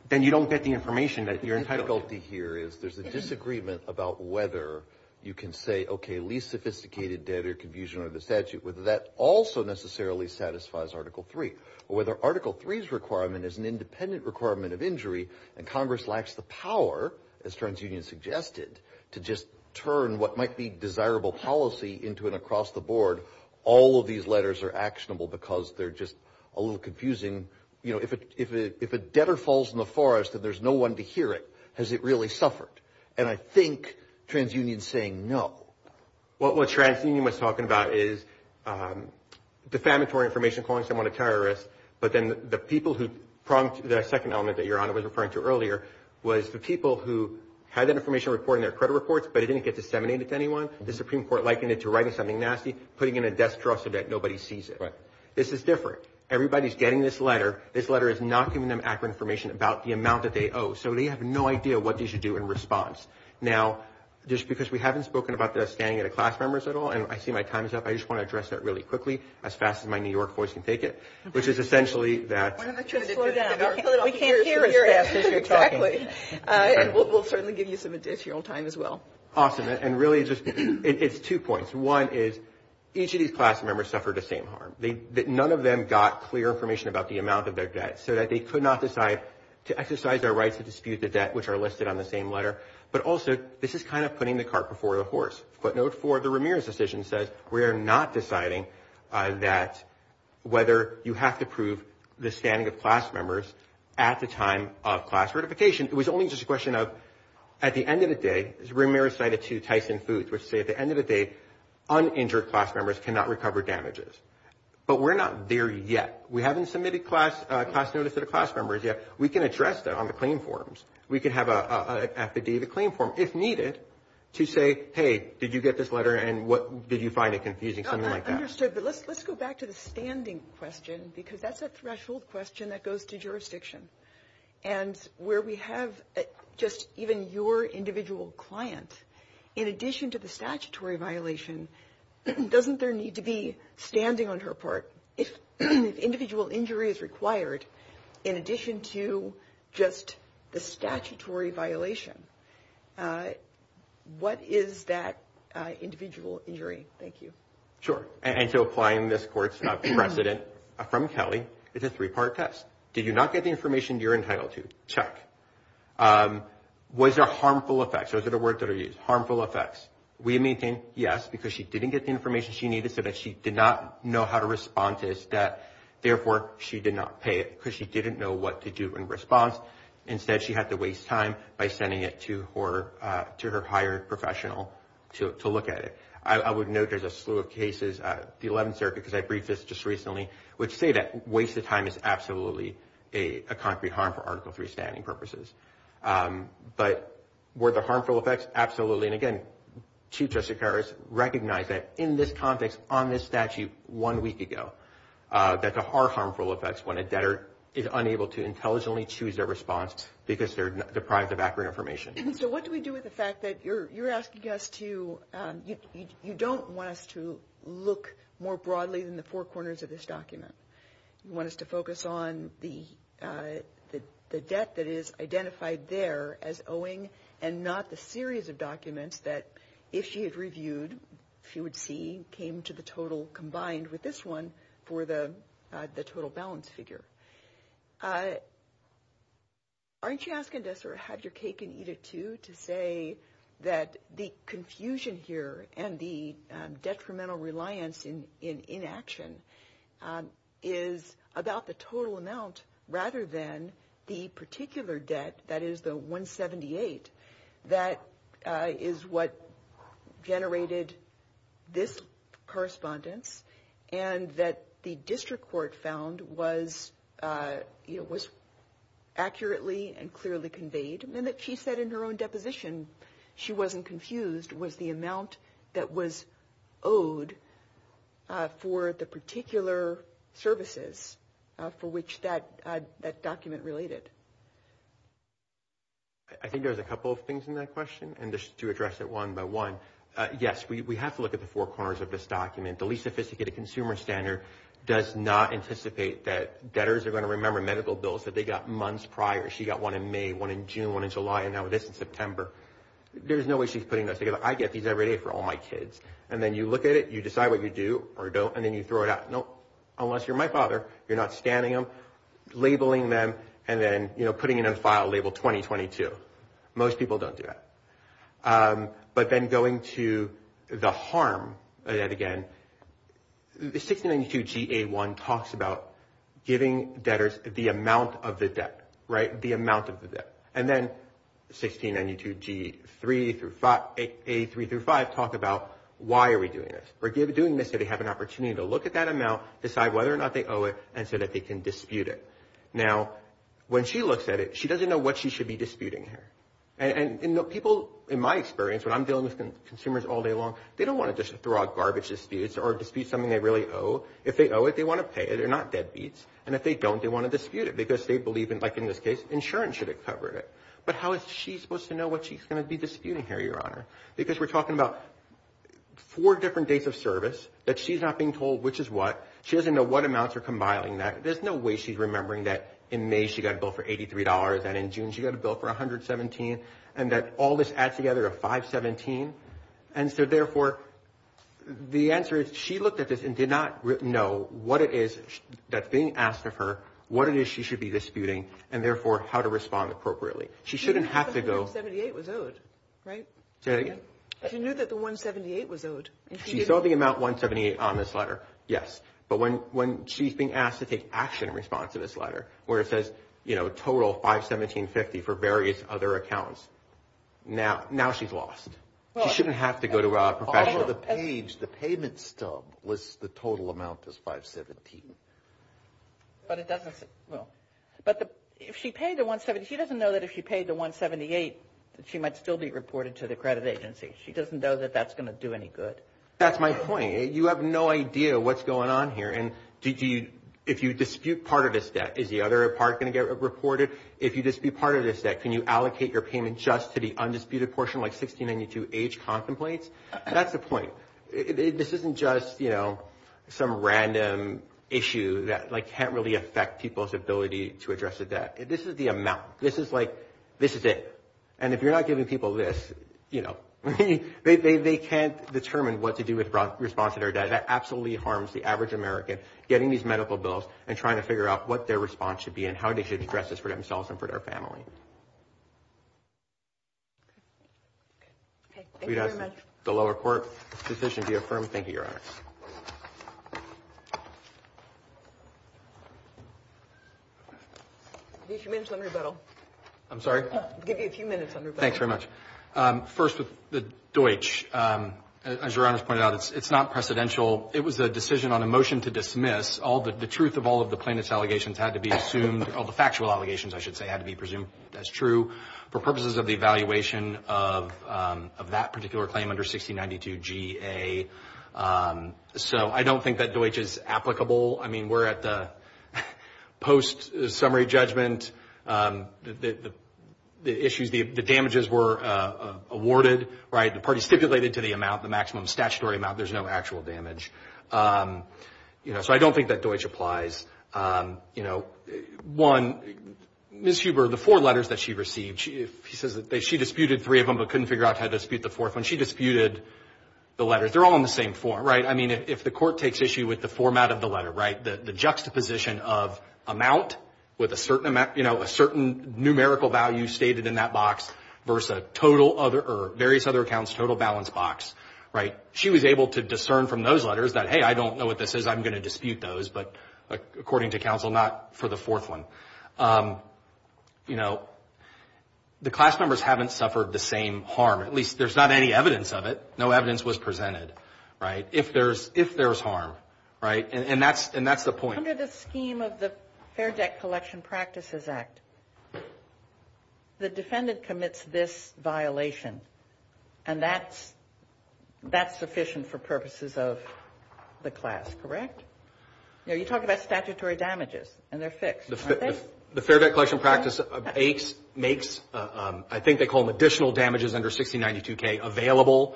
then you don't get the information that you're entitled to. The difficulty here is there's a disagreement about whether you can say, okay, least sophisticated debt or confusion under the statute, whether that also necessarily satisfies Article III, or whether Article III's requirement is an independent requirement of injury, and Congress lacks the power, as TransUnion suggested, to just turn what might be desirable policy into an across-the-board, all of these letters are actionable because they're just a little confusing. You know, if a debtor falls in the forest and there's no one to hear it, has it really suffered? And I think TransUnion's saying no. What TransUnion was talking about is defamatory information, calling someone a terrorist, but then the people who prompt the second element that Your Honor was referring to earlier was the people who had that information reported in their credit reports, but it didn't get disseminated to anyone. The Supreme Court likened it to writing something nasty, putting it in a desk dresser that nobody sees it. Right. This is different. Everybody's getting this letter. This letter is not giving them accurate information about the amount that they owe, so they have no idea what they should do in response. Now, just because we haven't spoken about the standing of the class members at all, and I see my time is up, I just want to address that really quickly, as fast as my New York voice can take it, which is essentially that. Slow down. We can't hear your ass as you're talking. Exactly. And we'll certainly give you some additional time as well. Awesome. And really, it's two points. One is each of these class members suffered the same harm. None of them got clear information about the amount of their debt, so that they could not decide to exercise their rights to dispute the debt, which are listed on the same letter. But also, this is kind of putting the cart before the horse. Footnote 4 of the Ramirez decision says, we are not deciding that whether you have to prove the standing of class members at the time of class certification. It was only just a question of, at the end of the day, as Ramirez cited to Tyson Foods, which say at the end of the day, uninjured class members cannot recover damages. But we're not there yet. We haven't submitted class notice to the class members yet. We can address that on the claim forms. We can have an affidavit claim form, if needed, to say, hey, did you get this letter, and did you find it confusing, something like that. I understood, but let's go back to the standing question, because that's a threshold question that goes to jurisdiction. And where we have just even your individual client, in addition to the statutory violation, doesn't there need to be standing on her part? If individual injury is required, in addition to just the statutory violation, what is that individual injury? Thank you. Sure. And so applying this court's precedent from Kelly is a three-part test. Did you not get the information you're entitled to? Check. Was there harmful effects? Those are the words that are used. Harmful effects. We maintain, yes, because she didn't get the information she needed so that she did not know how to respond to this, that, therefore, she did not pay it, because she didn't know what to do in response. Instead, she had to waste time by sending it to her hired professional to look at it. I would note there's a slew of cases, the 11th Circuit, because I briefed this just recently, which say that wasted time is absolutely a concrete harm for Article III standing purposes. But were there harmful effects? Absolutely. Absolutely. And, again, Chief Justice Siqueiros recognized that in this context, on this statute one week ago, that there are harmful effects when a debtor is unable to intelligently choose their response because they're deprived of background information. And so what do we do with the fact that you're asking us to – you don't want us to look more broadly than the four corners of this document. You want us to focus on the debt that is identified there as owing and not the series of documents that, if she had reviewed, she would see came to the total combined with this one for the total balance figure. Aren't you asking us, or have your cake and eat it, too, to say that the confusion here and the detrimental reliance in inaction is about the total amount rather than the particular debt, that is the 178, that is what generated this correspondence and that the district court found was accurately and clearly conveyed? And that she said in her own deposition she wasn't confused, was the amount that was owed for the particular services for which that document related. I think there's a couple of things in that question, and just to address it one by one. Yes, we have to look at the four corners of this document. The least sophisticated consumer standard does not anticipate that debtors are going to remember medical bills that they got months prior. She got one in May, one in June, one in July, and now this in September. There's no way she's putting those together. I get these every day for all my kids. And then you look at it, you decide what you do or don't, and then you throw it out. No, unless you're my father, you're not scanning them, labeling them, and then putting it in a file labeled 2022. Most people don't do that. But then going to the harm again, the 1692 GA1 talks about giving debtors the amount of the debt, right, the amount of the debt. And then 1692 GA3 through 5 talk about why are we doing this. We're doing this so they have an opportunity to look at that amount, decide whether or not they owe it, and so that they can dispute it. Now, when she looks at it, she doesn't know what she should be disputing here. And people, in my experience, when I'm dealing with consumers all day long, they don't want to just throw out garbage disputes or dispute something they really owe. If they owe it, they want to pay it. They're not deadbeats. And if they don't, they want to dispute it because they believe, like in this case, insurance should have covered it. But how is she supposed to know what she's going to be disputing here, Your Honor? Because we're talking about four different days of service that she's not being told which is what. She doesn't know what amounts are combining that. There's no way she's remembering that in May she got a bill for $83 and in June she got a bill for $117 and that all this adds together to $517. And so, therefore, the answer is she looked at this and did not know what it is that's being asked of her, what it is she should be disputing, and, therefore, how to respond appropriately. She shouldn't have to go. She knew that the $178 was owed, right? Say that again. She knew that the $178 was owed. She saw the amount $178 on this letter, yes. But when she's being asked to take action in response to this letter where it says, you know, total $517.50 for various other accounts, now she's lost. She shouldn't have to go to a professional. The page, the payment stub lists the total amount as $517. But it doesn't, well, but if she paid the $178, she doesn't know that if she paid the $178 that she might still be reported to the credit agency. She doesn't know that that's going to do any good. That's my point. You have no idea what's going on here. And if you dispute part of this debt, is the other part going to get reported? If you dispute part of this debt, can you allocate your payment just to the undisputed portion like 1692H contemplates? That's the point. This isn't just, you know, some random issue that, like, can't really affect people's ability to address the debt. This is the amount. This is, like, this is it. And if you're not giving people this, you know, they can't determine what to do with response to their debt. That absolutely harms the average American, getting these medical bills and trying to figure out what their response should be and how they should address this for themselves and for their family. The lower court decision to be affirmed. Thank you, Your Honor. I'll give you a few minutes on rebuttal. I'm sorry? I'll give you a few minutes on rebuttal. Thanks very much. First, with the Deutsch, as Your Honor's pointed out, it's not precedential. It was a decision on a motion to dismiss. The truth of all of the plaintiff's allegations had to be assumed. All the factual allegations, I should say, had to be presumed as true. For purposes of the evaluation of that particular claim under 1692 GA. So I don't think that Deutsch is applicable. I mean, we're at the post-summary judgment. The issues, the damages were awarded, right? The parties stipulated to the amount, the maximum statutory amount. There's no actual damage. You know, so I don't think that Deutsch applies. You know, one, Ms. Huber, the four letters that she received, she says that she disputed three of them but couldn't figure out how to dispute the fourth one. She disputed the letters. They're all in the same form, right? I mean, if the court takes issue with the format of the letter, right, the juxtaposition of amount with a certain numerical value stated in that box versus various other accounts, total balance box, right? She was able to discern from those letters that, hey, I don't know what this is. I'm going to dispute those. But according to counsel, not for the fourth one. You know, the class members haven't suffered the same harm. At least there's not any evidence of it. No evidence was presented, right, if there's harm, right? And that's the point. Under the scheme of the Fair Debt Collection Practices Act, the defendant commits this violation. And that's sufficient for purposes of the class, correct? No, you're talking about statutory damages, and they're fixed, aren't they? The Fair Debt Collection Practice makes, I think they call them additional damages under 6092K, available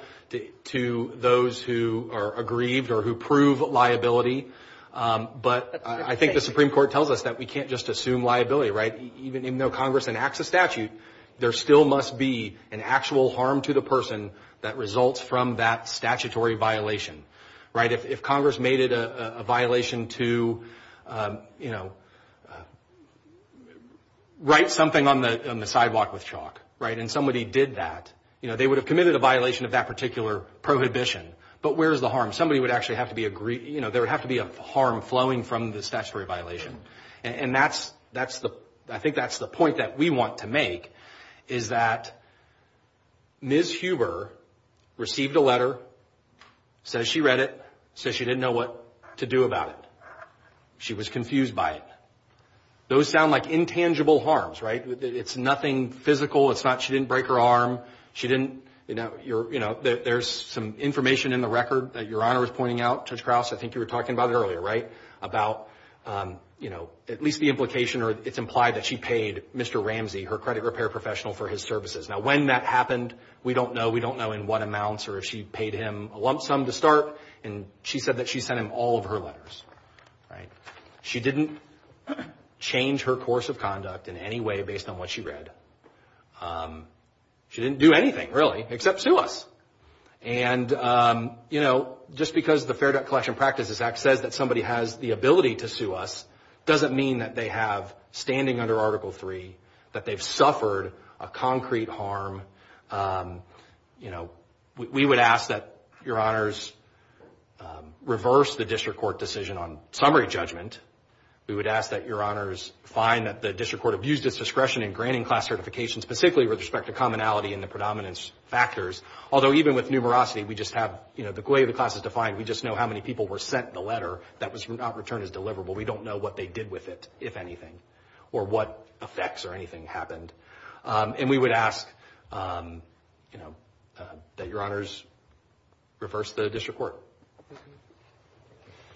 to those who are aggrieved or who prove liability. But I think the Supreme Court tells us that we can't just assume liability, right? Even though Congress enacts a statute, there still must be an actual harm to the person that results from that statutory violation, right? If Congress made it a violation to, you know, write something on the sidewalk with chalk, right, and somebody did that, you know, they would have committed a violation of that particular prohibition. But where is the harm? Somebody would actually have to be aggrieved. You know, there would have to be a harm flowing from the statutory violation. And that's the, I think that's the point that we want to make, is that Ms. Huber received a letter, says she read it, says she didn't know what to do about it. She was confused by it. Those sound like intangible harms, right? It's nothing physical, it's not she didn't break her arm, she didn't, you know, there's some information in the record that Your Honor was pointing out, Judge Krause, I think you were talking about it earlier, right, about, you know, at least the implication or it's implied that she paid Mr. Ramsey, her credit repair professional, for his services. Now, when that happened, we don't know. We don't know in what amounts or if she paid him a lump sum to start. And she said that she sent him all of her letters, right? She didn't change her course of conduct in any way based on what she read. She didn't do anything, really, except sue us. And, you know, just because the Fair Debt Collection Practices Act says that somebody has the ability to sue us doesn't mean that they have, standing under Article III, that they've suffered a concrete harm. You know, we would ask that Your Honors reverse the district court decision on summary judgment. We would ask that Your Honors find that the district court abused its discretion in granting class certifications, specifically with respect to commonality and the predominance factors, although even with numerosity, we just have, you know, the way the class is defined, we just know how many people were sent the letter that was not returned as deliverable. We don't know what they did with it, if anything, or what effects or anything happened. And we would ask, you know, that Your Honors reverse the district court.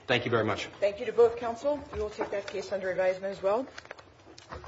Thank you very much. Thank you to both counsel. We will take that case under advisement as well.